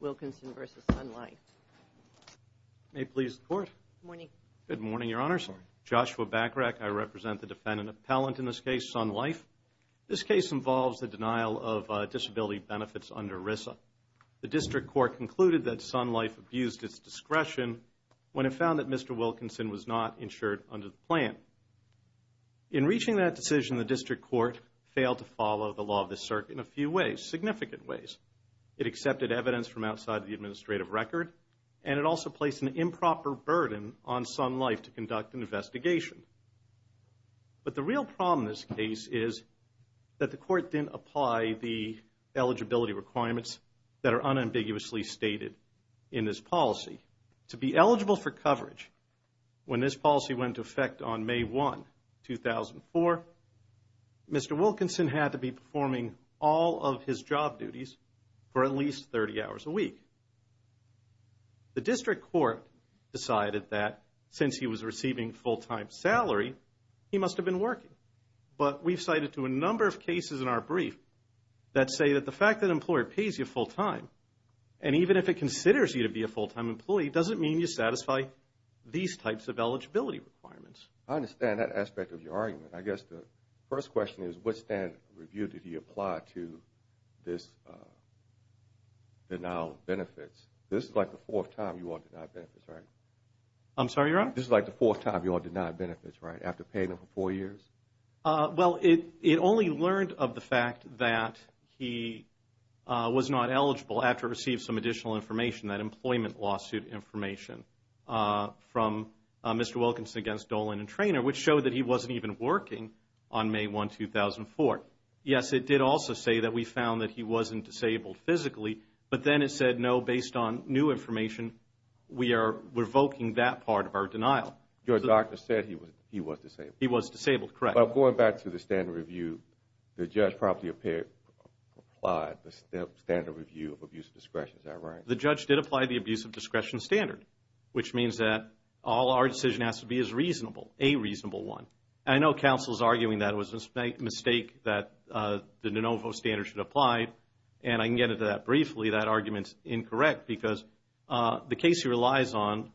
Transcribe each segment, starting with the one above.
Wilkinson v. Sun Life. May it please the Court. Good morning. Good morning, Your Honors. Joshua Bacharach. I represent the defendant appellant in this case, Sun Life. This case involves the denial of disability benefits under RISA. The District Court concluded that Sun Life abused its discretion when it found that Mr. Wilkinson was not insured under the plan. In reaching that decision, the District Court failed to follow the law of the circuit in a few ways, significant ways. It accepted evidence from outside the administrative record, and it also placed an improper burden on Sun Life to conduct an investigation. But the real problem in this case is that the Court didn't apply the eligibility requirements that are unambiguously stated in this policy. To be eligible for coverage when this policy went into effect on May 1, 2004, Mr. Wilkinson had to be performing all of his job duties for at least 30 hours a week. The District Court decided that since he was receiving full-time salary, he must have been working. But we've cited to a number of cases in our brief that say that the fact that employer pays you full-time, and even if it considers you to be a full-time employee, doesn't mean you satisfy these types of eligibility requirements. I understand that aspect of your argument. I guess the first question is what standard of review did he apply to this denial of benefits? This is like the fourth time you all denied benefits, right? I'm sorry, Your Honor? This is like the fourth time you all denied benefits, right? After paying them for four years? Well, it only learned of the fact that he was not eligible after receiving some additional information, that employment lawsuit information, from Mr. Wilkinson which showed that he wasn't even working on May 1, 2004. Yes, it did also say that we found that he wasn't disabled physically, but then it said, no, based on new information, we are revoking that part of our denial. Your doctor said he was disabled. He was disabled, correct. But going back to the standard review, the judge promptly applied the standard review of abuse of discretion, is that right? The judge did apply the abuse of discretion standard, which means that all our decision has to be as reasonable, a reasonable one. I know counsel's arguing that it was a mistake that the de novo standard should apply, and I can get into that briefly. That argument's incorrect because the case he relies on,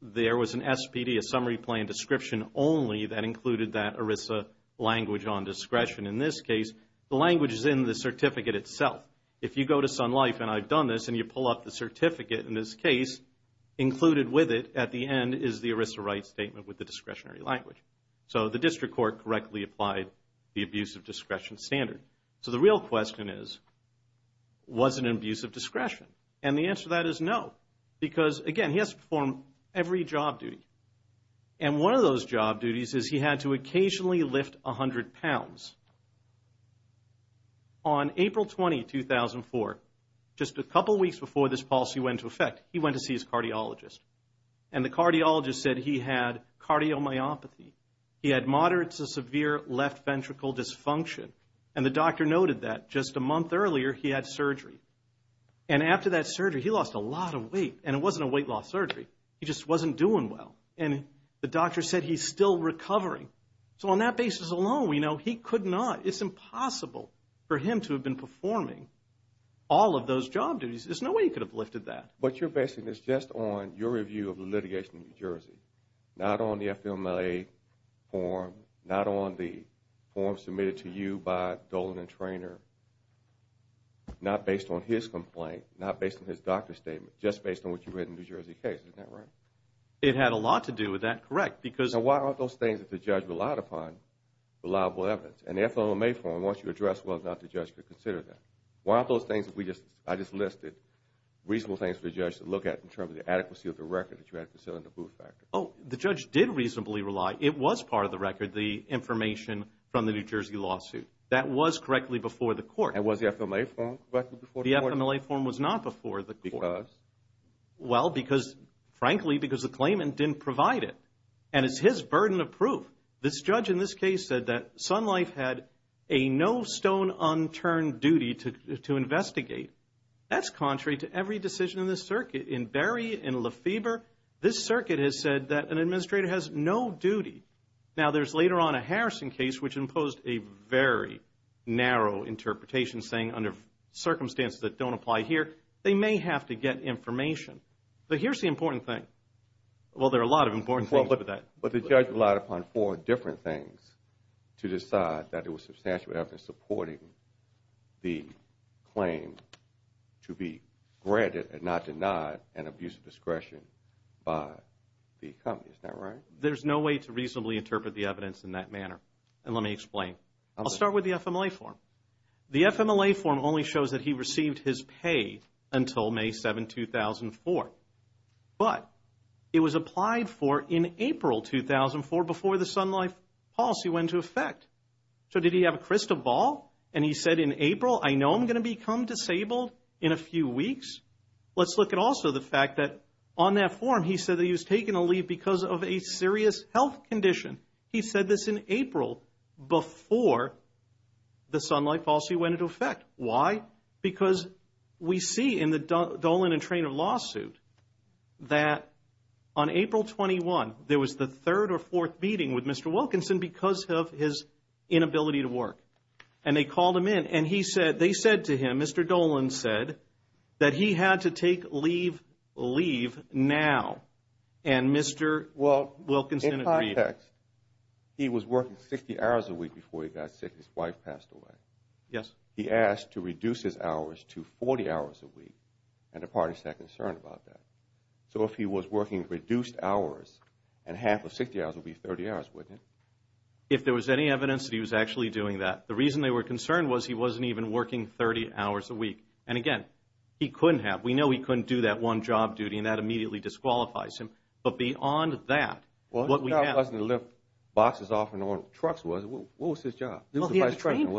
there was an SPD, a summary plan description only, that included that ERISA language on discretion. In this case, the language is in the certificate itself. If you go to Sun Life, and I've done this, and you pull up the certificate in this case, included with it at the end is the ERISA right statement with the discretionary language. So the district court correctly applied the abuse of discretion standard. So the real question is, was it an abuse of discretion? And the answer to that is no, because again, he has to perform every job duty. And one of those job duties is he had to occasionally lift a hundred pounds. On April 20, 2004, just a couple weeks before this policy went into effect, he went to see his cardiologist. And the cardiologist said he had cardiomyopathy. He had moderate to severe left ventricle dysfunction. And the doctor noted that just a month earlier, he had surgery. And after that surgery, he lost a lot of weight. And it wasn't a weight loss surgery. He just wasn't doing well. And the doctor said he's still recovering. So on that basis alone, we know he could not, it's been performing all of those job duties. There's no way he could have lifted that. But you're basing this just on your review of the litigation in New Jersey, not on the FLMLA form, not on the form submitted to you by Dolan and Treanor, not based on his complaint, not based on his doctor's statement, just based on what you read in the New Jersey case. Isn't that right? It had a lot to do with that, correct, because... So why aren't those things that the judge relied upon reliable evidence? And the Why aren't those things that we just, I just listed, reasonable things for the judge to look at in terms of the adequacy of the record that you had for selling the boot factory? Oh, the judge did reasonably rely, it was part of the record, the information from the New Jersey lawsuit. That was correctly before the court. And was the FLMLA form correct before the court? The FLMLA form was not before the court. Because? Well, because, frankly, because the claimant didn't provide it. And it's his burden of proof. This judge in this case said that Sun Life had a no stone unturned duty to investigate. That's contrary to every decision in this circuit. In Berry, in Lefebvre, this circuit has said that an administrator has no duty. Now, there's later on a Harrison case which imposed a very narrow interpretation, saying under circumstances that don't apply here, they may have to get information. But here's the important thing. Well, there are a lot of important things. Well, look at that. But the judge relied upon four different things to decide that it was supporting the claim to be granted and not denied an abuse of discretion by the company. Is that right? There's no way to reasonably interpret the evidence in that manner. And let me explain. I'll start with the FLMLA form. The FLMLA form only shows that he received his pay until May 7, 2004. But it was applied for in April 2004 before the Sun Life policy went into effect. So did he have a crystal ball? And he said in April, I know I'm going to become disabled in a few weeks. Let's look at also the fact that on that form, he said that he was taking a leave because of a serious health condition. He said this in April before the Sun Life policy went into effect. Why? Because we see in the Dolan and Traynor lawsuit that on April 21, there was the third or fourth meeting with Mr. Wilkinson because of his inability to work. And they called him in. And they said to him, Mr. Dolan said that he had to take leave now. And Mr. Wilkinson agreed. In context, he was working 60 hours a week before he got sick. His wife passed away. Yes. He asked to reduce his hours to 40 hours a week. And the parties had concern about that. So if he was working reduced hours, and half of 60 hours would be 30 hours, wouldn't it? If there was any evidence that he was actually doing that. The reason they were concerned was he wasn't even working 30 hours a week. And again, he couldn't have. We know he couldn't do that one job duty. And that immediately disqualifies him. But beyond that, what we have boxes off and on trucks was, what was his job? He had to train people.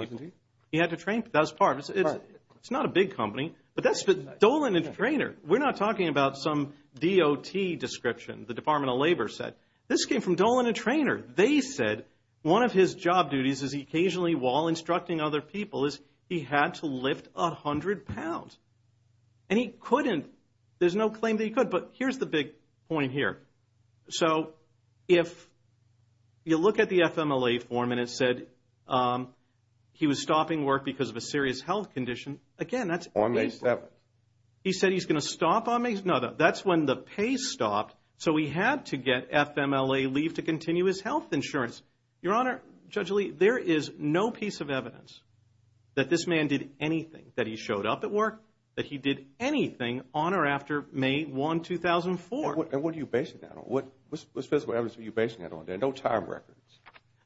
That was part of it. It's not a big company. But that's the Dolan and Traynor. We're not talking about some DOT description. The Department of Labor said, this came from Dolan and Traynor. They said one of his job duties is occasionally while instructing other people is he had to lift 100 pounds. And he couldn't. There's no claim that he could. But here's the big point here. So if you look at the FMLA form and it said he was stopping work because of a serious health condition, again, that's on May 7th. He said he's going to stop on May 7th. No, that's when the pay stopped. So he had to get FMLA leave to continue his health insurance. Your Honor, Judge Lee, there is no piece of evidence that this man did anything, that he showed up at work, that he did anything on or after May 1, 2004. And what are you basing that on? What's the evidence that you're basing that on? There are no time records.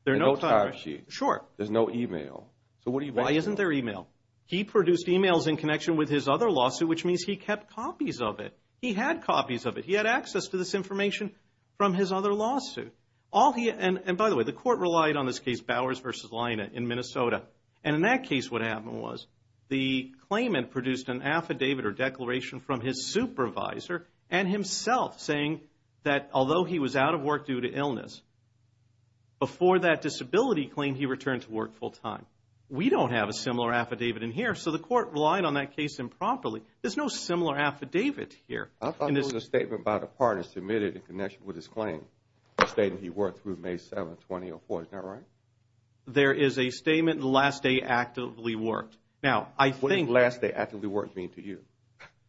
There are no time sheets. Sure. There's no email. So why isn't there email? He produced emails in connection with his other lawsuit, which means he kept copies of it. He had copies of it. He had access to this information from his other lawsuit. And by the way, the court relied on this case Bowers v. Lina in Minnesota. And in that case, what happened was the claimant produced an affidavit or and himself saying that although he was out of work due to illness, before that disability claim, he returned to work full-time. We don't have a similar affidavit in here. So the court relied on that case improperly. There's no similar affidavit here. I thought there was a statement by the partner submitted in connection with his claim, the statement he worked through May 7th, 2004. Is that right? There is a statement, last day actively worked. Now, I think... What does last day actively worked mean to you?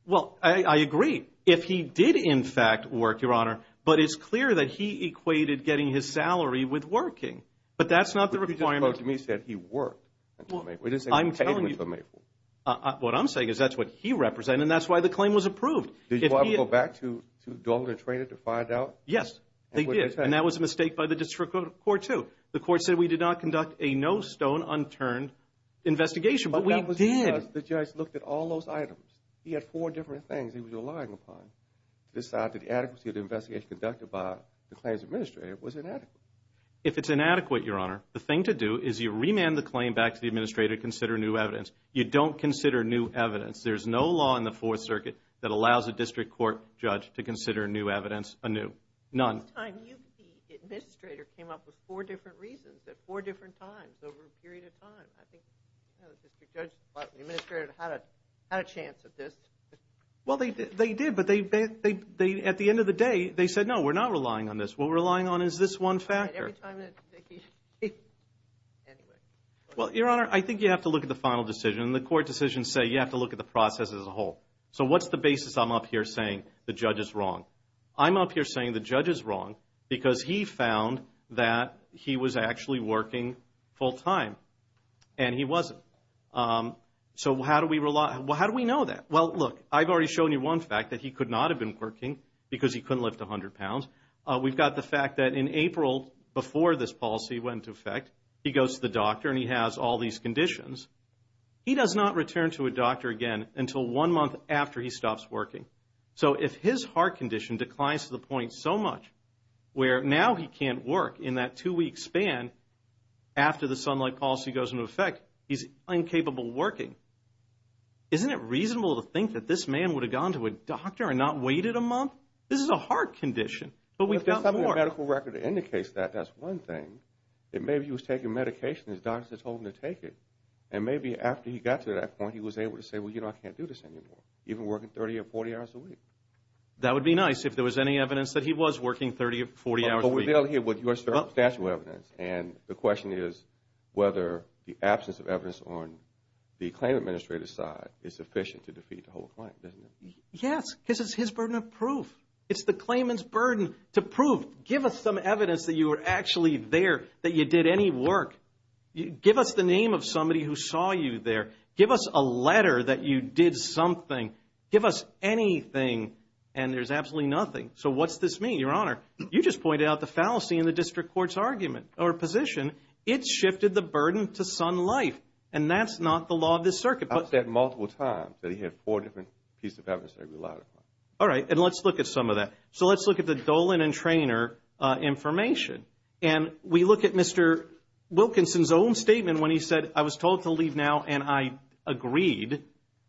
Well, I agree. If he did, in fact, work, Your Honor, but it's clear that he equated getting his salary with working. But that's not the requirement. But you just spoke to me and said he worked until May 4th. I'm telling you... What I'm saying is that's what he represented and that's why the claim was approved. Did you want to go back to Dalton and Trader to find out? Yes, they did. And that was a mistake by the district court too. The court said we did not conduct a no stone unturned investigation, but we did. The judge looked at all those items. He had four different things he was relying upon to decide that the adequacy of the investigation conducted by the claims administrator was inadequate. If it's inadequate, Your Honor, the thing to do is you remand the claim back to the administrator to consider new evidence. You don't consider new evidence. There's no law in the Fourth Circuit that allows a district court judge to consider new evidence anew. None. This time, the administrator came up with four different reasons at four different times over a period of time. I think the district judge and the administrator had a chance at this. Well, they did, but at the end of the day, they said, no, we're not relying on this. What we're relying on is this one factor. Every time that he... Anyway. Well, Your Honor, I think you have to look at the final decision. The court decisions say you have to look at the process as a whole. So what's the basis I'm up here saying the judge is wrong? I'm up here saying the judge is wrong because he found that he was actually working full-time and he wasn't. So how do we know that? Well, look, I've already shown you one fact that he could not have been working because he couldn't lift 100 pounds. We've got the fact that in April, before this policy went into effect, he goes to the doctor and he has all these conditions. He does not return to a doctor again until one month after he stops working. So if his heart condition declines to a point so much where now he can't work in that two-week span after the Sunlight Policy goes into effect, he's incapable of working, isn't it reasonable to think that this man would have gone to a doctor and not waited a month? This is a heart condition, but we've got more. Well, if there's something in the medical record that indicates that, that's one thing. That maybe he was taking medication and his doctor told him to take it. And maybe after he got to that point, he was able to say, well, you know, I can't do this anymore, even working 30 or 40 hours a week. That would be nice if there was any evidence that he was working 30 or 40 hours a week. But we're dealing here with your statute of evidence, and the question is whether the absence of evidence on the claim administrator's side is sufficient to defeat the whole claim, isn't it? Yes, because it's his burden of proof. It's the claimant's burden to prove. Give us some evidence that you were actually there, that you did any work. Give us the name of somebody who saw you there. Give us a letter that you something. Give us anything, and there's absolutely nothing. So what's this mean, Your Honor? You just pointed out the fallacy in the district court's argument or position. It's shifted the burden to son life, and that's not the law of this circuit. I've said multiple times that he had four different pieces of evidence that he relied upon. All right, and let's look at some of that. So let's look at the Dolan and Treanor information. And we look at Mr. Wilkinson's own statement when he said, I was told to leave now, and I agreed.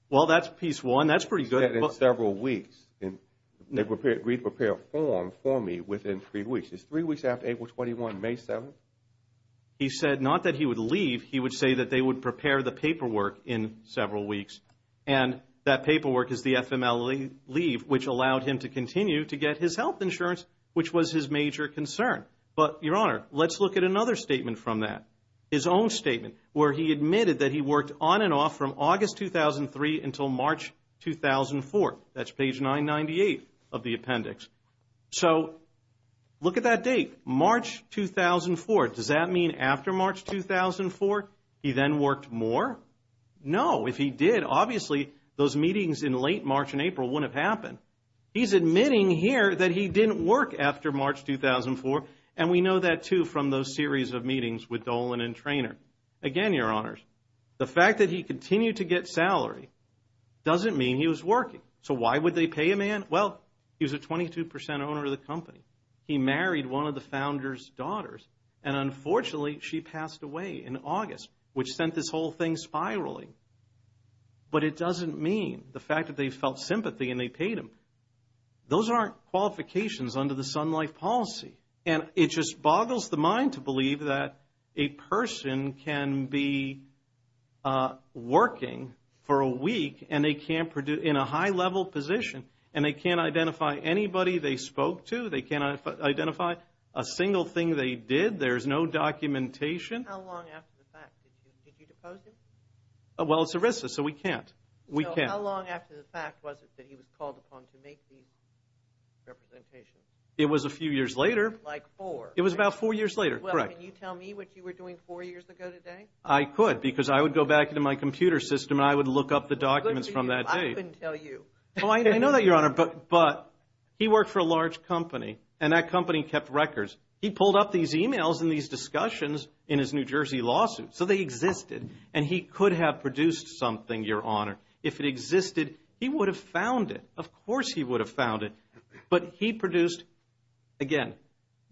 Well, that's piece one. That's pretty good. He said in several weeks, and they prepared a form for me within three weeks. It's three weeks after April 21, May 7. He said not that he would leave. He would say that they would prepare the paperwork in several weeks, and that paperwork is the FMLA leave, which allowed him to continue to get his health insurance, which was his major concern. But, Your Honor, let's look at another statement from that, his own statement, where he admitted that he worked on and off from August 2003 until March 2004. That's page 998 of the appendix. So look at that date, March 2004. Does that mean after March 2004, he then worked more? No. If he did, obviously, those meetings in late March and April wouldn't have happened. He's admitting here that he didn't work after March 2004, and we know that, too, from those series of meetings with Dolan and again, Your Honors, the fact that he continued to get salary doesn't mean he was working. So why would they pay a man? Well, he was a 22 percent owner of the company. He married one of the founder's daughters, and unfortunately, she passed away in August, which sent this whole thing spiraling. But it doesn't mean the fact that they felt sympathy and they paid him. Those aren't qualifications under the Sun Life policy, and it just boggles the that a person can be working for a week in a high-level position, and they can't identify anybody they spoke to. They cannot identify a single thing they did. There's no documentation. How long after the fact? Did you depose him? Well, it's ERISA, so we can't. So how long after the fact was it that he was called upon to make these representations? It was a few years later. Can you tell me what you were doing four years ago today? I could, because I would go back into my computer system, and I would look up the documents from that day. I couldn't tell you. I know that, Your Honor, but he worked for a large company, and that company kept records. He pulled up these e-mails and these discussions in his New Jersey lawsuit, so they existed, and he could have produced something, Your Honor. If it existed, he would have found it. Of course he would have found it, but he produced, again,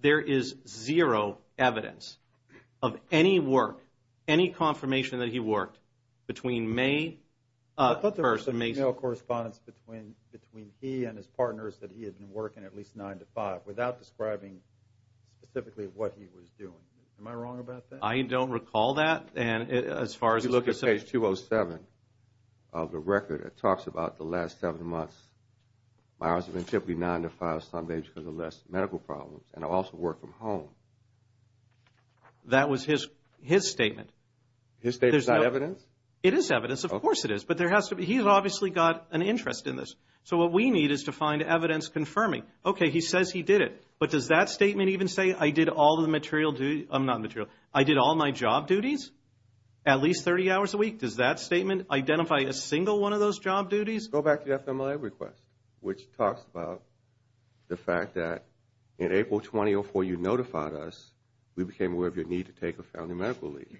there is zero evidence of any work, any confirmation that he worked between May 1st and May 2nd. I thought there was an e-mail correspondence between he and his partners that he had been working at least nine to five without describing specifically what he was doing. Am I wrong about that? I don't recall that, and as far as you look at page 207 of the record, it talks about the last seven months. My hours have been typically nine to five some days because of less medical problems, and I also work from home. That was his statement. His statement is not evidence? It is evidence. Of course it is, but he has obviously got an interest in this, so what we need is to find evidence confirming, okay, he says he did it, but does that statement even say I did all my job duties at least 30 hours a week? Does that statement identify a single one of those job duties? Go back to the FMLA request, which talks about the fact that in April 2004, you notified us we became aware of your need to take a family medical leave.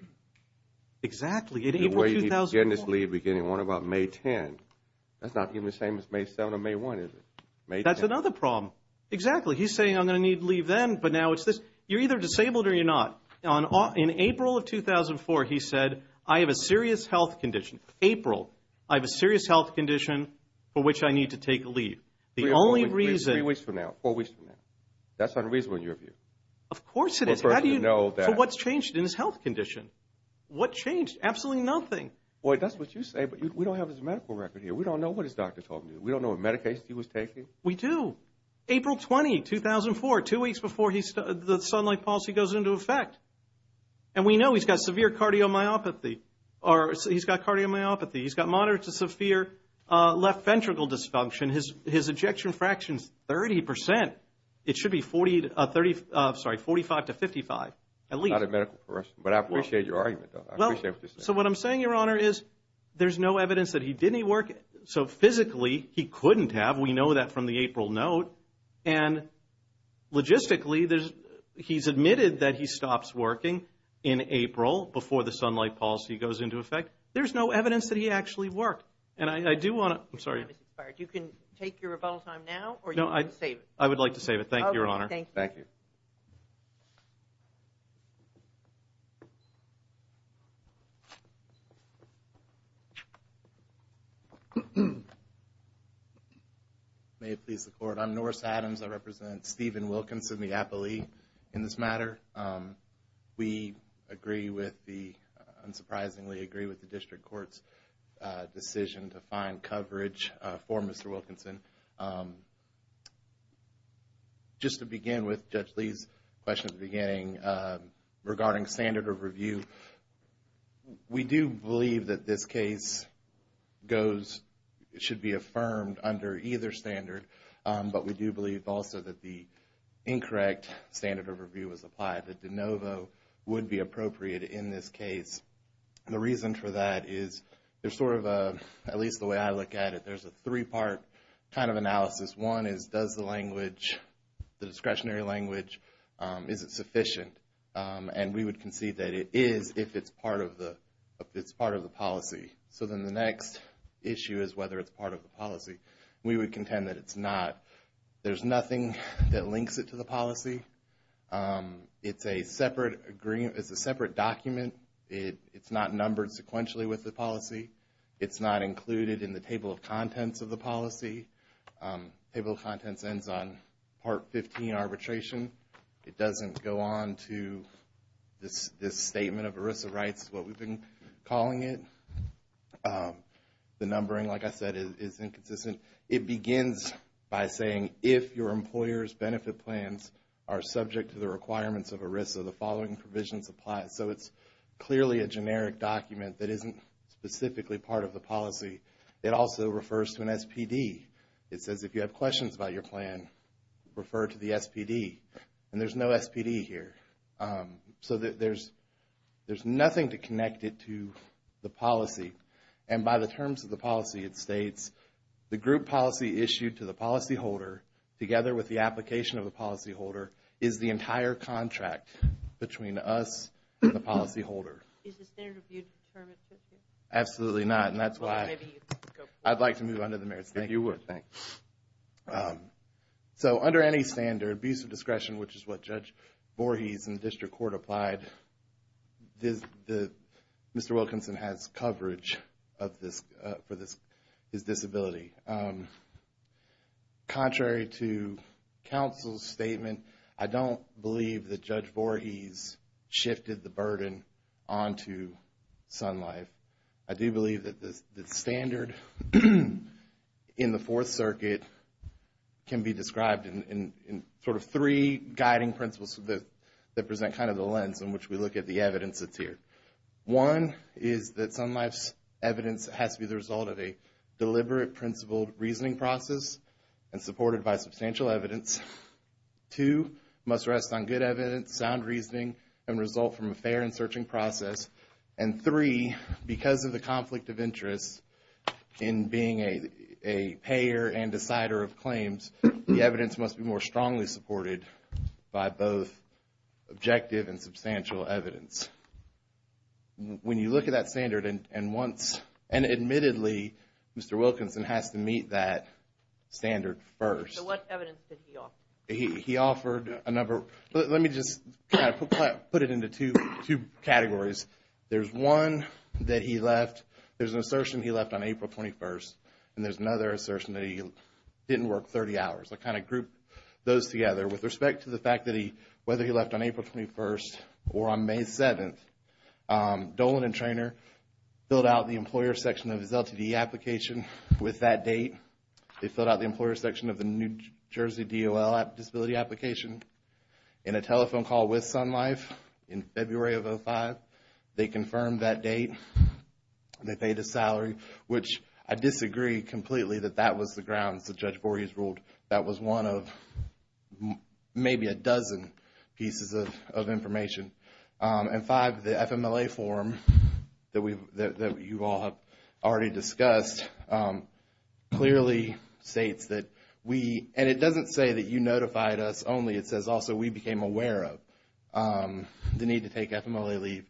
Exactly. The way he began this leave beginning on about May 10th, that is not even the same as May 7th or May 1st, is it? That is another problem. Exactly. He is saying I am going to need leave then, but now it is this. You are either disabled or you are not. In April of 2004, he said I have a serious health condition. April, I have a serious health condition for which I need to take a leave. The only reason... Three weeks from now, four weeks from now. That is unreasonable in your view. Of course it is. How do you know that? For what has changed in his health condition? What changed? Absolutely nothing. Boy, that is what you say, but we do not have his medical record here. We do not know what his doctor told him to do. We do not know what medication he was taking. We do. April 20, 2004, two weeks before the Sunlight Policy goes into effect, and we know he has got severe cardiomyopathy, or he has got cardiomyopathy. He has got moderate to severe left ventricle dysfunction. His ejection fraction is 30%. It should be 45% to 55% at least. That is not a medical question, but I appreciate your argument. I appreciate what you are saying. So what I am saying, Your Honor, is there is no evidence that he did any work. So physically, he could not have. We know that from the April note. And logistically, he has admitted that he stops working in April before the Sunlight Policy goes into effect. There is no evidence that he actually worked. And I do want to, I am sorry. Your time has expired. You can take your rebuttal time now, or you can save it. I would like to save it. Thank you, Your Honor. Okay. Thank you. Thank you. May it please the Court, I am Norris Adams. I represent Stephen Wilkinson, the appellee in this matter. We agree with the, unsurprisingly agree with the District Court's decision to find coverage for Mr. Wilkinson. Just to begin with, Judge Lee's question at the beginning regarding standard of review, we do believe that this case goes, should be affirmed under either standard. But we do believe also that the incorrect standard of review was applied, that de novo would be appropriate in this case. The reason for that is, there's sort of a, at least the way I look at it, there's a three-part kind of analysis. One is, does the language, the discretionary language, is it sufficient? And we would concede that it is if it's part of the policy. So then the next issue is whether it's part of the policy. We would contend that it's not. There's nothing that links it to the policy. It's a separate agreement, it's a separate document. It's not numbered sequentially with the policy. It's not included in the table of contents of the policy. Table of contents ends on part 15 arbitration. It doesn't go on to this statement of ERISA rights, what we've been calling it. The numbering, like I said, is inconsistent. It begins by saying, if your employer's benefit plans are subject to the requirements of ERISA, the following provisions apply. So it's clearly a generic document that isn't specifically part of the policy. It also refers to an SPD. It says, if you have questions about your plan, refer to the SPD. And there's no SPD here. So there's nothing to connect it to the policy. And by the terms of the policy, it states, the group policy issued to the policyholder, together with the application of the policyholder, is the entire contract between us and the policyholder. Is the standard of view determined? Absolutely not. And that's why I'd like to move on to the merits. Thank you. So under any standard, abuse of discretion, which is what Judge Voorhees in the District Court applied, this, the, Mr. Wilkinson has coverage of this, for this, his disability. Contrary to counsel's statement, I don't believe that Judge Voorhees shifted the burden onto Sun Life. I do believe that the standard in the Fourth Circuit can be described in sort of three guiding principles that present kind of the lens in which we look at the evidence that's here. One is that Sun Life's evidence has to be the result of a deliberate, principled reasoning process and supported by substantial evidence. Two, must rest on good evidence, sound reasoning, and result from a fair and searching process. And three, because of the conflict of interest in being a payer and decider of claims, the evidence must be more strongly supported by both objective and substantial evidence. When you look at that standard, and once, and admittedly, Mr. Wilkinson has to meet that standard first. So what evidence did he offer? He offered a number, let me just kind of put it into two categories. There's one that he left, there's an assertion he left on April 21st, there's another assertion that he didn't work 30 hours. I kind of grouped those together with respect to the fact that he, whether he left on April 21st or on May 7th, Dolan and Traynor filled out the employer section of his LTD application with that date. They filled out the employer section of the New Jersey DOL disability application in a telephone call with Sun Life in February of 2005. They confirmed that date and they paid his salary, which I disagree completely that that was the grounds that Judge Borges ruled that was one of maybe a dozen pieces of information. And five, the FMLA form that you all have already discussed clearly states that we, and it doesn't say that you notified us only, it says also we became aware of the need to take FMLA leave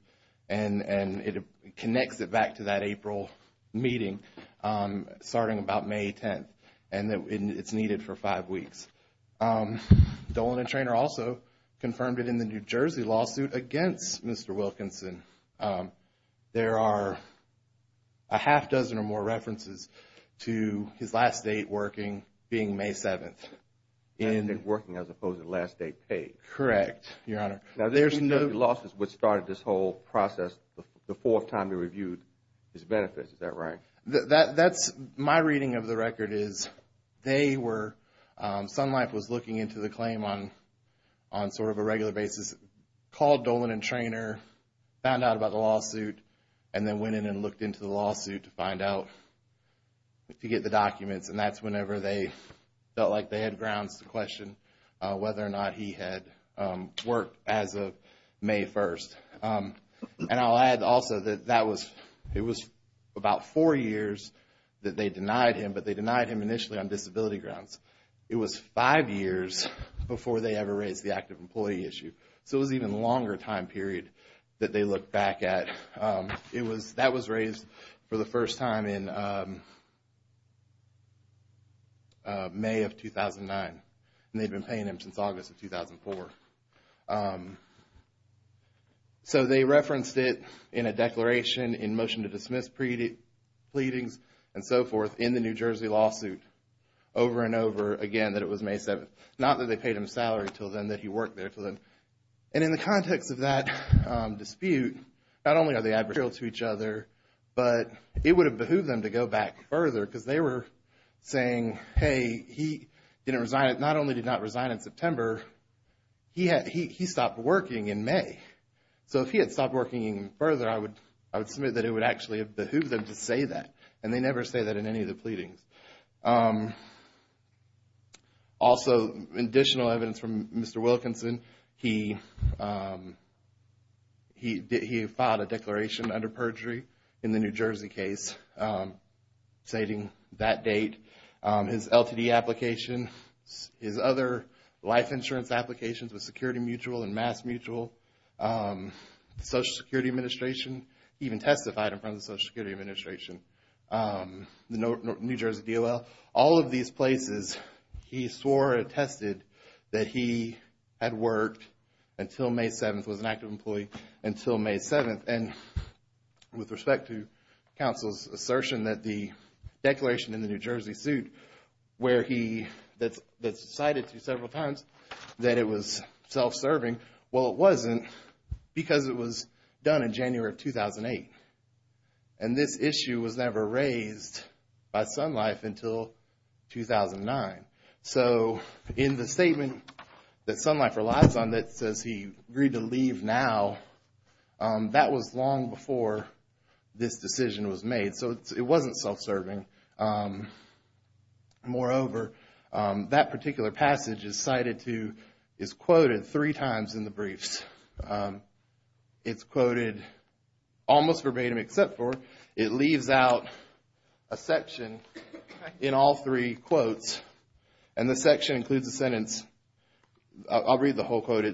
and it connects it back to that April meeting starting about May 10th and it's needed for five weeks. Dolan and Traynor also confirmed it in the New Jersey lawsuit against Mr. Wilkinson. There are a half dozen or more references to his last date working being May 7th. Last date working as opposed to last date paid. Correct, Your Honor. Now, there's no losses which started this whole process the fourth time you reviewed his benefits, is that right? That's my reading of the record is they were, Sun Life was looking into the claim on sort of a regular basis, called Dolan and Traynor, found out about the lawsuit and then went in and looked into the lawsuit to find out to get the documents and that's whenever they felt like they had grounds to question whether or not he had worked as of May 1st. And I'll add also that it was about four years that they denied him, but they denied him initially on disability grounds. It was five years before they ever raised the active employee issue. So it was an even longer time period that they looked back at. That was raised for the first time in May of 2009 and they'd been paying him since August of 2004. So they referenced it in a declaration in motion to dismiss pleadings and so forth in the New Jersey lawsuit over and over again that it was May 7th. Not that they paid him salary until then that he worked there for them. And in the context of that dispute, not only are they adversarial to each other, but it would have behooved them to go back further because they were saying, hey, he didn't resign. Not only did not resign in September, he stopped working in May. So if he had stopped working further, I would submit that it would actually have behooved them to say that. And they never say that in any of the pleadings. Also, additional evidence from Mr. Wilkinson, he filed a declaration under perjury in the New Jersey case stating that date, his LTD application, his other life insurance applications with Security Mutual and Mass Mutual, the Social Security Administration, even testified in front of the Social Security Administration, New Jersey DOL. All of these places, he swore or attested that he had worked until May 7th, was an active employee until May 7th. And with respect to counsel's assertion that the declaration in the New Jersey suit that's cited to several times that it was self-serving, well, it wasn't because it was done in January of 2008. And this issue was never raised by Sun Life until 2009. So in the statement that Sun Life relies on that says he agreed to leave now, that was long before this decision was made. So it wasn't self-serving. Moreover, that particular passage is cited to, is quoted three times in the briefs. It's quoted almost verbatim except for, it leaves out a section in all three quotes. And the section includes a sentence, I'll read the whole quote,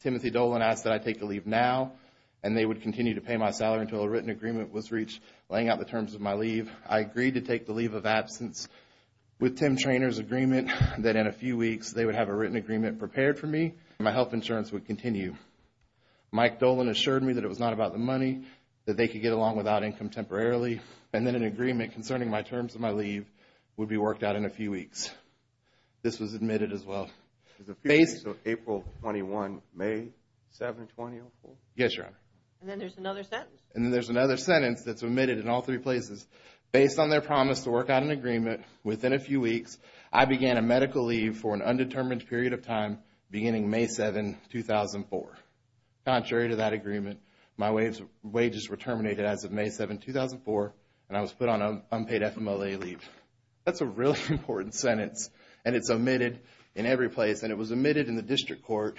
Timothy Dolan asked that I take a leave now. And they would continue to pay my salary until a written agreement was reached laying out the terms of my leave. I agreed to take the leave of absence with Tim Traynor's agreement that in a few weeks they would have a written agreement prepared for me. My health insurance would continue. Mike Dolan assured me that it was not about the money, that they could get along without income temporarily. And then an agreement concerning my terms of my leave would be worked out in a few weeks. This was admitted as well. Is April 21, May 7, 2004? Yes, Your Honor. And then there's another sentence. And then there's another sentence that's omitted in all three places. Based on their promise to work out an agreement within a few weeks, I began a medical leave for an undetermined period of time beginning May 7, 2004. Contrary to that agreement, my wages were terminated as of May 7, 2004. And I was put on an unpaid FMLA leave. That's a really important sentence. And it's omitted in every place. And it was omitted in the district court.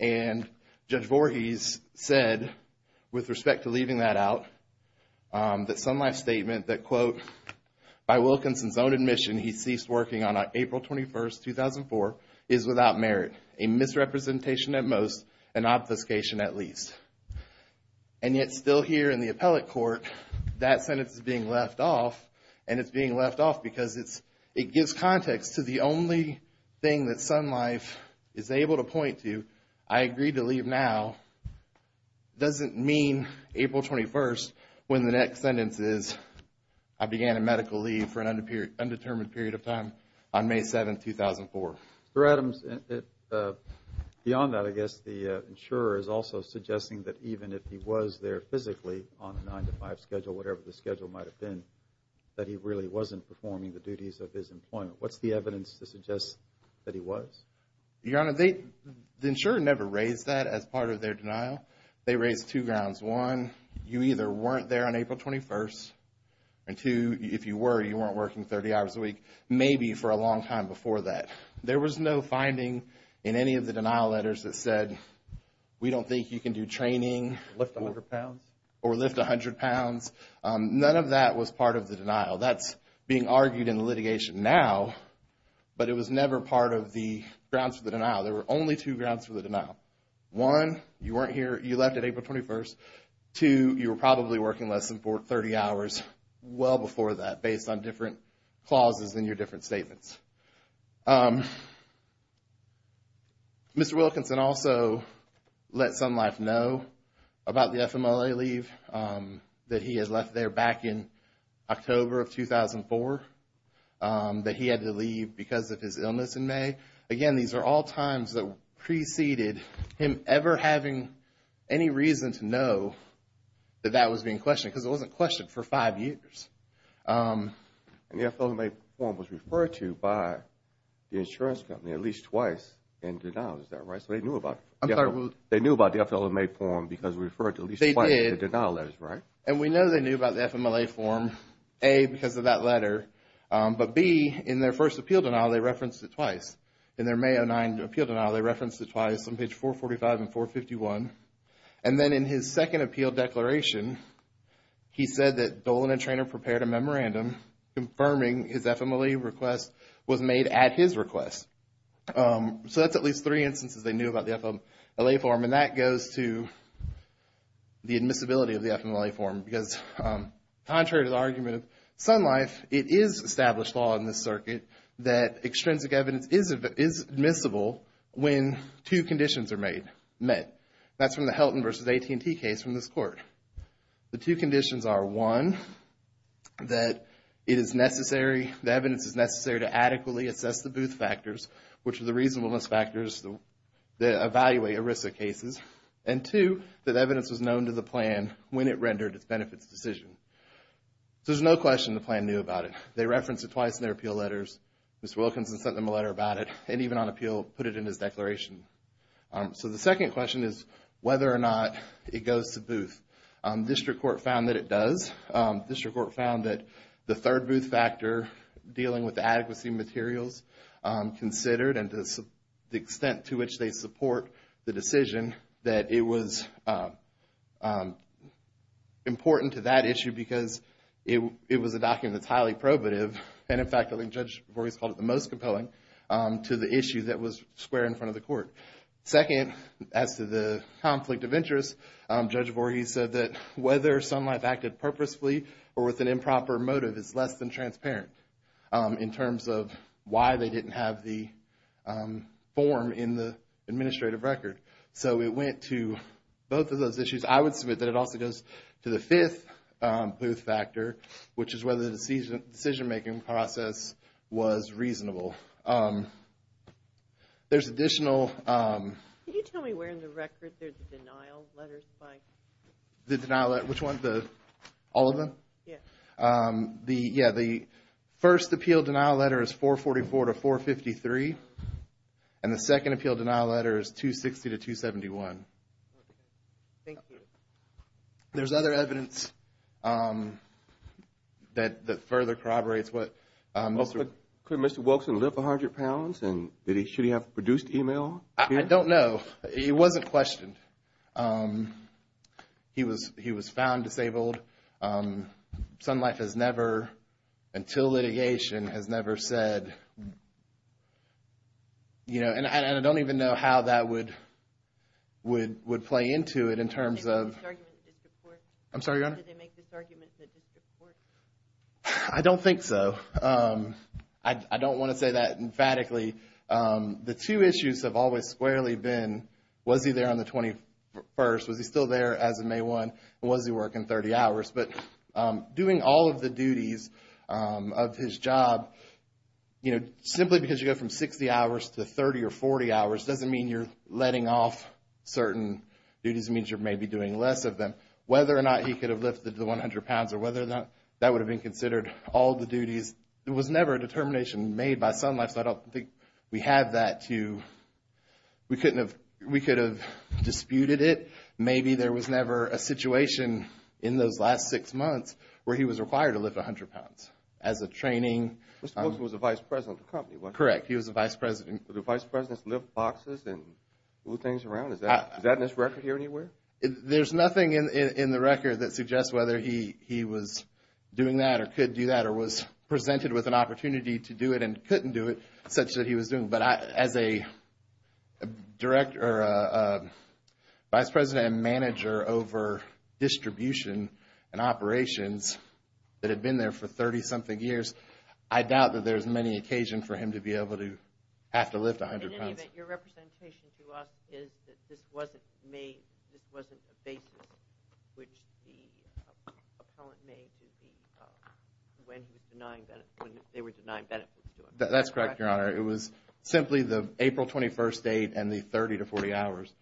And Judge Voorhees said, with respect to leaving that out, that Sun Life's statement that, quote, by Wilkinson's own admission, he ceased working on April 21, 2004, is without merit, a misrepresentation at most, an obfuscation at least. And yet still here in the appellate court, that sentence is being left off. And it's being left off because it gives context to the only thing that Sun Life is able to point to. I agree to leave now doesn't mean April 21, when the next sentence is, I began a medical leave for an undetermined period of time on May 7, 2004. Mr. Adams, beyond that, I guess the insurer is also suggesting that even if he was there physically on the 9 to 5 schedule, whatever the schedule might have been, that he really wasn't performing the duties of his employment. What's the evidence to suggest that he was? Your Honor, the insurer never raised that as part of their denial. They raised two grounds. One, you either weren't there on April 21st. And two, if you were, you weren't working 30 hours a week, maybe for a long time before that. There was no finding in any of the denial letters that said, we don't think you can do training. Lift 100 pounds. Or lift 100 pounds. None of that was part of the denial. That's being argued in litigation now. But it was never part of the grounds for the denial. There were only two grounds for the denial. One, you weren't here, you left on April 21st. Two, you were probably working less than 30 hours well before that, based on different clauses in your different statements. Mr. Wilkinson also let Sun Life know about the FMLA leave that he has left there back in October of 2004. That he had to leave because of his illness in May. Again, these are all times that preceded him ever having any reason to know that that was being questioned. Because it wasn't questioned for five years. And the FMLA form was referred to by the insurance company at least twice in denial. Is that right? So they knew about it. They knew about the FMLA form because it was referred to at least twice in the denial. And we know they knew about the FMLA form, A, because of that letter. But B, in their first appeal denial, they referenced it twice. In their May 2009 appeal denial, they referenced it twice on page 445 and 451. And then in his second appeal declaration, he said that Dolan and Treanor prepared a memorandum confirming his FMLA request was made at his request. So that's at least three instances they knew about the FMLA form. And that goes to the admissibility of the FMLA form. Because contrary to the argument of Sun Life, it is established law in this circuit that extrinsic evidence is admissible when two conditions are met. That's from the Helton versus AT&T case from this court. The two conditions are, one, that it is necessary, the evidence is necessary to adequately assess the Booth factors, which are the reasonableness factors that evaluate ERISA cases. And two, that evidence was known to the plan when it rendered its benefits decision. So there's no question the plan knew about it. They referenced it twice in their appeal letters. Mr. Wilkinson sent them a letter about it. And even on appeal, put it in his declaration. So the second question is whether or not it goes to Booth. District Court found that it does. District Court found that the third Booth factor, dealing with the adequacy materials considered, and the extent to which they support the decision, that it was important to that issue because it was a document that's highly probative. And in fact, I think Judge Voorhees called it the most compelling to the issue that was square in front of the court. Second, as to the conflict of interest, Judge Voorhees said that whether Sun Life acted purposefully or with an improper motive is less than transparent. In terms of why they didn't have the form in the administrative record. So it went to both of those issues. I would submit that it also goes to the fifth Booth factor, which is whether the decision making process was reasonable. There's additional... Can you tell me where in the record there's the denial letters? The denial letters, which one? All of them? Yeah. The first appeal denial letter is 444 to 453. And the second appeal denial letter is 260 to 271. Thank you. There's other evidence that further corroborates what... Could Mr. Wilkson lift 100 pounds? And should he have produced email? I don't know. He wasn't questioned. He was found disabled. Sun Life has never, until litigation, has never said... You know, and I don't even know how that would play into it in terms of... Did they make this argument in the district court? I'm sorry, Your Honor? Did they make this argument in the district court? I don't think so. I don't want to say that emphatically. The two issues have always squarely been, was he there on the 21st? Was he still there as of May 1? And was he working 30 hours? But doing all of the duties of his job, you know, simply because you go from 60 hours to 30 or 40 hours, doesn't mean you're letting off certain duties. It means you're maybe doing less of them. Whether or not he could have lifted the 100 pounds or whether or not that would have been considered all the duties, it was never a determination made by Sun Life. So I don't think we have that to... We couldn't have... We could have disputed it. Maybe there was never a situation in those last six months where he was required to lift 100 pounds as a training. Mr. Brooks was the vice president of the company, wasn't he? Correct, he was the vice president. Did the vice presidents lift boxes and move things around? Is that in this record here anywhere? There's nothing in the record that suggests whether he was doing that or could do that or was presented with an opportunity to do it and couldn't do it such that he was doing. As a director or vice president and manager over distribution and operations that had been there for 30-something years, I doubt that there's many occasion for him to be able to have to lift 100 pounds. Your representation to us is that this wasn't made... This wasn't a basis which the appellant made when they were denying benefits to him. That's correct, Your Honor. It was simply the April 21st date and the 30-40 hours.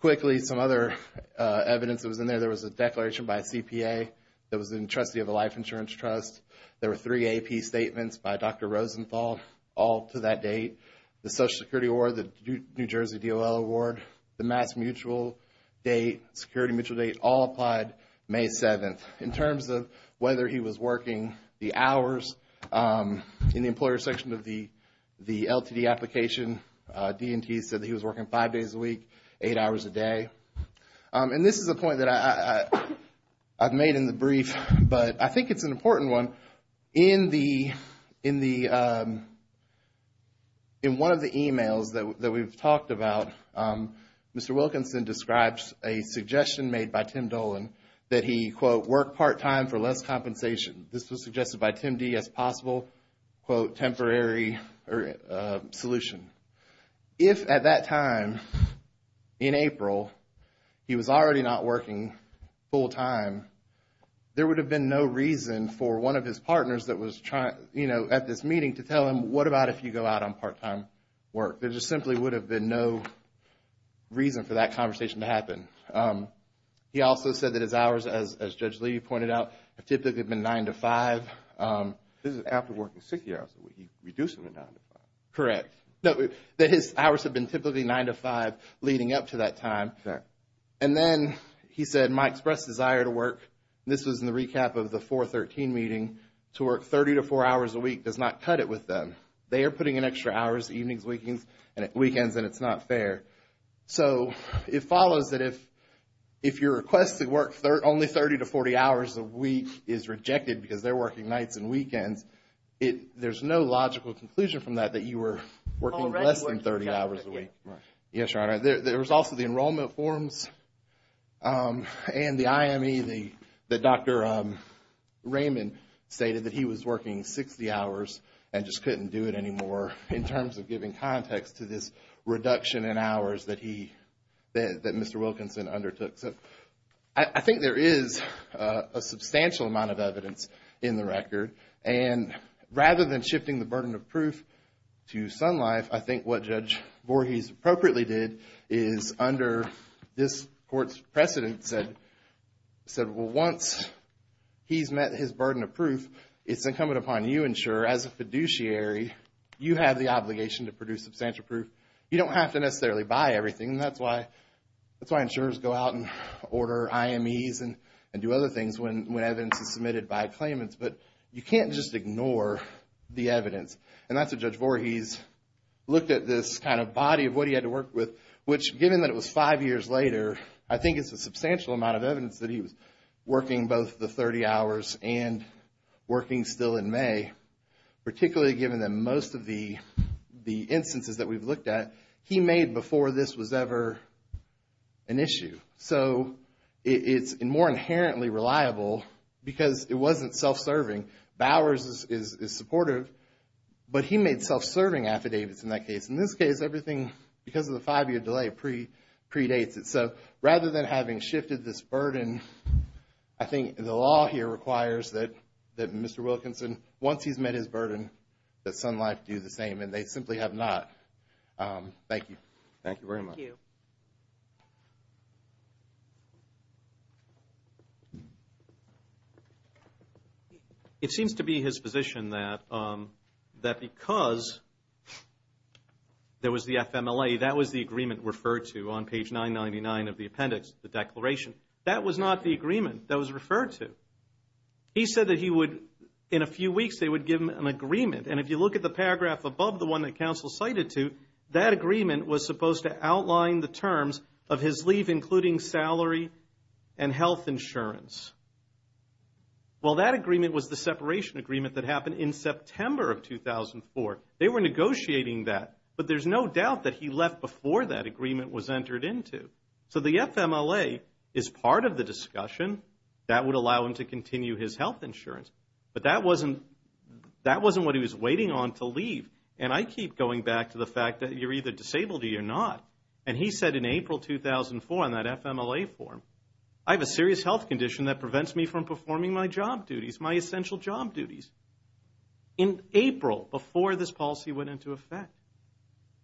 Quickly, some other evidence that was in there. There was a declaration by CPA that was in the trustee of the Life Insurance Trust. There were three AP statements by Dr. Rosenthal, all to that date. The Social Security Award, the New Jersey DOL Award, the Mass Mutual Date, Security Mutual Date, all applied May 7th. In terms of whether he was working the hours in the employer section of the LTD application, D&T said that he was working five days a week, eight hours a day. And this is a point that I've made in the brief, but I think it's an important one. In one of the emails that we've talked about, Mr. Wilkinson describes a suggestion made by Tim Dolan that he, quote, work part-time for less compensation. This was suggested by Tim D as possible, quote, temporary solution. If at that time in April, he was already not working full-time, there would have been no reason for one of his partners that was trying, you know, at this meeting to tell him, what about if you go out on part-time work? There just simply would have been no reason for that conversation to happen. He also said that his hours, as Judge Lee pointed out, have typically been nine to five. This is after working 60 hours a week. Reduce them to nine to five. Correct. No, that his hours have been typically nine to five leading up to that time. And then he said, my express desire to work, this was in the recap of the 413 meeting, to work 30 to four hours a week does not cut it with them. They are putting in extra hours evenings, weekends, and weekends, and it's not fair. So, it follows that if your request to work only 30 to 40 hours a week is rejected because they're working nights and weekends, there's no logical conclusion from that that you were working less than 30 hours a week. Right. Yes, Your Honor. There was also the enrollment forms and the IME that Dr. Raymond stated that he was working 60 hours and just couldn't do it anymore in terms of giving context to this reduction in hours that Mr. Wilkinson undertook. So, I think there is a substantial amount of evidence in the record. And rather than shifting the burden of proof to Sun Life, I think what Judge Voorhees appropriately did is under this court's precedent said, said, well, once he's met his burden of proof, it's incumbent upon you insurer as a fiduciary, you have the obligation to produce substantial proof. You don't have to necessarily buy everything. That's why insurers go out and order IMEs and do other things when evidence is submitted by claimants. But you can't just ignore the evidence. And that's what Judge Voorhees looked at this kind of body of what he had to work with, which given that it was five years later, I think it's a substantial amount of evidence that he was working both the 30 hours and working still in May, particularly given that most of the instances that we've looked at, he made before this was ever an issue. So, it's more inherently reliable because it wasn't self-serving. Bowers is supportive, but he made self-serving affidavits in that case. In this case, everything, because of the five-year delay, predates it. So, rather than having shifted this burden, I think the law here requires that Mr. Wilkinson, once he's met his burden, that Sun Life do the same, and they simply have not. Thank you. Thank you very much. Thank you. It seems to be his position that because there was the FMLA, that was the agreement referred to on page 999 of the appendix, the declaration. That was not the agreement that was referred to. He said that he would, in a few weeks, they would give him an agreement. And if you look at the paragraph above the one that counsel cited to, that agreement was supposed to outline the terms of his leave, including salary and health insurance. Well, that agreement was the separation agreement that happened in September of 2004. They were negotiating that, but there's no doubt that he left before that agreement was entered into. So, the FMLA is part of the discussion that would allow him to continue his health insurance. But that wasn't what he was waiting on to leave. And I keep going back to the fact that you're either disabled or you're not. And he said in April 2004, in that FMLA form, I have a serious health condition that prevents me from performing my job duties, my essential job duties. In April, before this policy went into effect.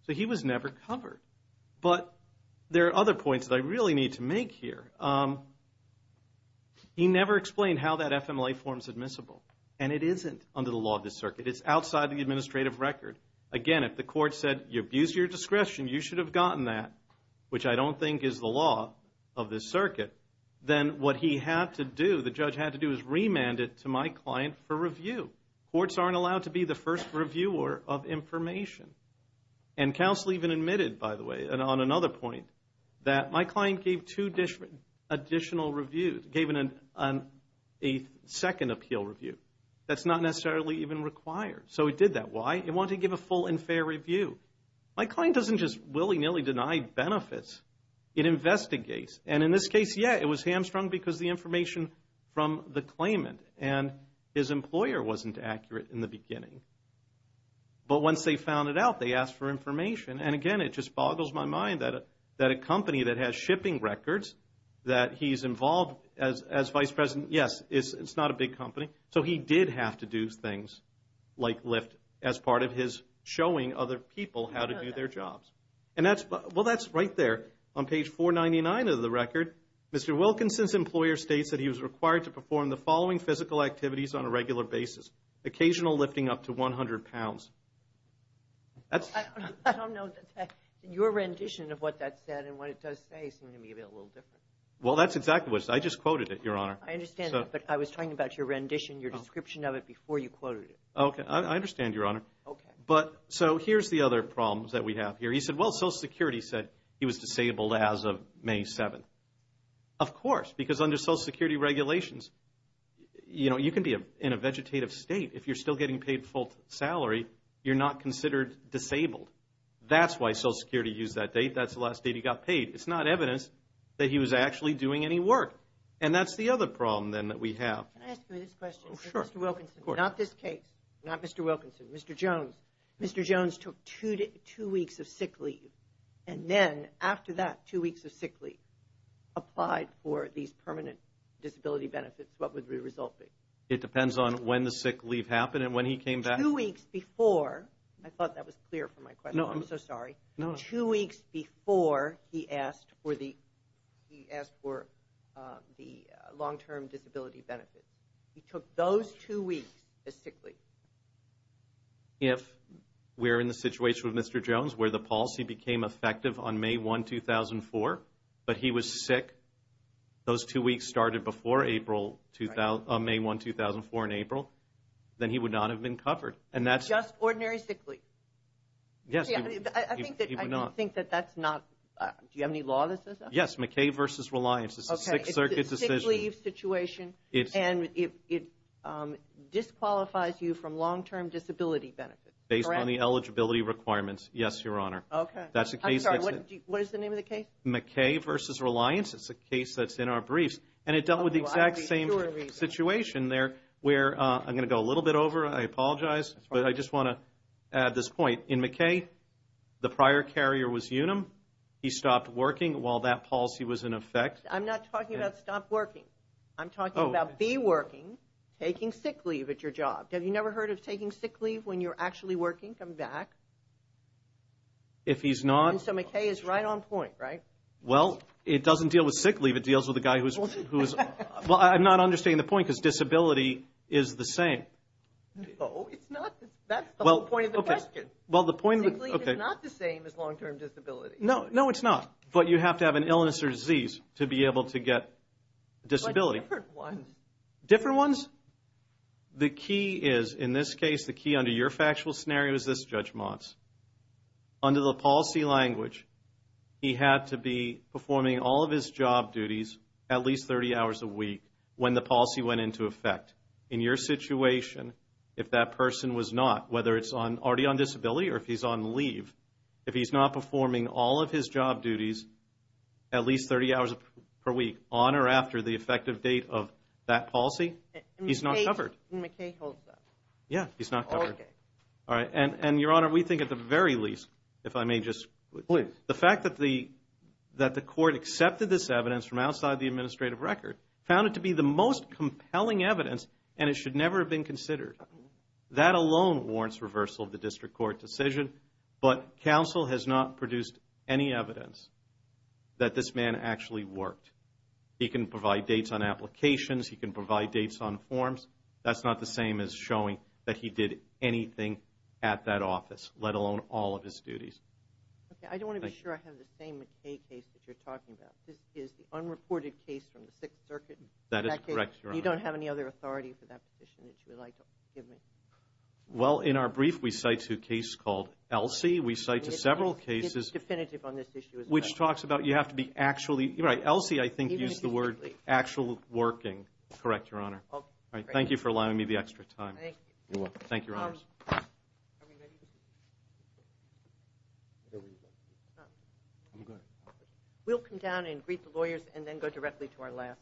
So, he was never covered. But there are other points that I really need to make here. He never explained how that FMLA form's admissible. And it isn't under the law of this circuit. It's outside the administrative record. Again, if the court said, you abused your discretion, you should have gotten that, which I don't think is the law of this circuit, then what he had to do, the judge had to do, is remand it to my client for review. Courts aren't allowed to be the first reviewer of information. And counsel even admitted, by the way, and on another point, that my client gave two additional reviews, gave a second appeal review. That's not necessarily even required. So, he did that. Why? He wanted to give a full and fair review. My client doesn't just willy-nilly deny benefits. It investigates. And in this case, yeah, it was hamstrung because the information from the claimant and his employer wasn't accurate in the beginning. But once they found it out, they asked for information. And again, it just boggles my mind that a company that has shipping records, that he's involved as vice president, yes, it's not a big company. So, he did have to do things like lift as part of his showing other people how to do their jobs. And that's, well, that's right there on page 499 of the record. Mr. Wilkinson's employer states that he was required to perform the following physical activities on a regular basis. Occasional lifting up to 100 pounds. That's... I don't know your rendition of what that said and what it does say. Maybe a little different. Well, that's exactly what it said. I just quoted it, Your Honor. I understand, but I was talking about your rendition, your description of it before you quoted it. Okay, I understand, Your Honor. Okay. But, so here's the other problems that we have here. He said, well, Social Security said he was disabled as of May 7th. Of course, because under Social Security regulations, you know, you can be in a vegetative state if you're still getting paid full salary, you're not considered disabled. That's why Social Security used that date. That's the last date he got paid. It's not evidence that he was actually doing any work. And that's the other problem, then, that we have. Can I ask you this question? Sure. Mr. Wilkinson, not this case, not Mr. Wilkinson, Mr. Jones. Mr. Jones took two weeks of sick leave. And then, after that two weeks of sick leave, applied for these permanent disability benefits. What would the result be? It depends on when the sick leave happened and when he came back. Two weeks before, I thought that was clear from my question. No. I'm so sorry. No. Two weeks before he asked for the long-term disability benefit. He took those two weeks as sick leave. If we're in the situation with Mr. Jones, where the policy became effective on May 1, 2004, but he was sick, those two weeks started before April, on May 1, 2004 in April, then he would not have been covered. And that's... Just ordinary sick leave. Yes. I think that that's not... Do you have any law that says that? Yes. McKay v. Reliance. It's a Sixth Circuit decision. It's a sick leave situation. And it disqualifies you from long-term disability benefits. Based on the eligibility requirements. Yes, Your Honor. Okay. That's the case. I'm sorry. What is the name of the case? McKay v. Reliance. It's a case that's in our briefs. And it dealt with the exact same situation there where... I'm going to go a little bit over. I apologize. But I just want to add this point. In McKay, the prior carrier was Unum. He stopped working while that policy was in effect. I'm not talking about stop working. I'm talking about be working, taking sick leave at your job. Have you never heard of taking sick leave when you're actually working? Come back. If he's not... And so McKay is right on point, right? Well, it doesn't deal with sick leave. It deals with a guy who's... Well, I'm not understanding the point because disability is the same. No, it's not. That's the whole point of the question. Sick leave is not the same as long-term disability. No, no, it's not. But you have to have an illness or disease to be able to get disability. But different ones. Different ones? The key is, in this case, the key under your factual scenario is this, Judge Motz. Under the policy language, he had to be performing all of his job duties at least 30 hours a week when the policy went into effect. In your situation, if that person was not, whether it's already on disability or if he's on leave, if he's not performing all of his job duties at least 30 hours per week on or after the effective date of that policy, he's not covered. And McKay holds that? Yeah, he's not covered. Okay. All right. And, Your Honor, we think at the very least, if I may just... Please. The fact that the court accepted this evidence from outside the administrative record found it to be the most compelling evidence and it should never have been considered. That alone warrants reversal of the district court decision, but counsel has not produced any evidence that this man actually worked. He can provide dates on applications. He can provide dates on forms. That's not the same as showing that he did anything at that office, let alone all of his duties. Okay. I don't want to be sure I have the same McKay case that you're talking about. This is the unreported case from the Sixth Circuit. That is correct, Your Honor. You don't have any other authority for that position that you would like to give me? Well, in our brief, we cite to a case called Elsie. We cite to several cases... It's definitive on this issue as well. Which talks about you have to be actually... You're right. Elsie, I think, used the word actual working. Correct, Your Honor. Okay. Thank you for allowing me the extra time. Thank you. You're welcome. Thank you, Your Honors. We'll come down and greet the lawyers and then go directly to our last case.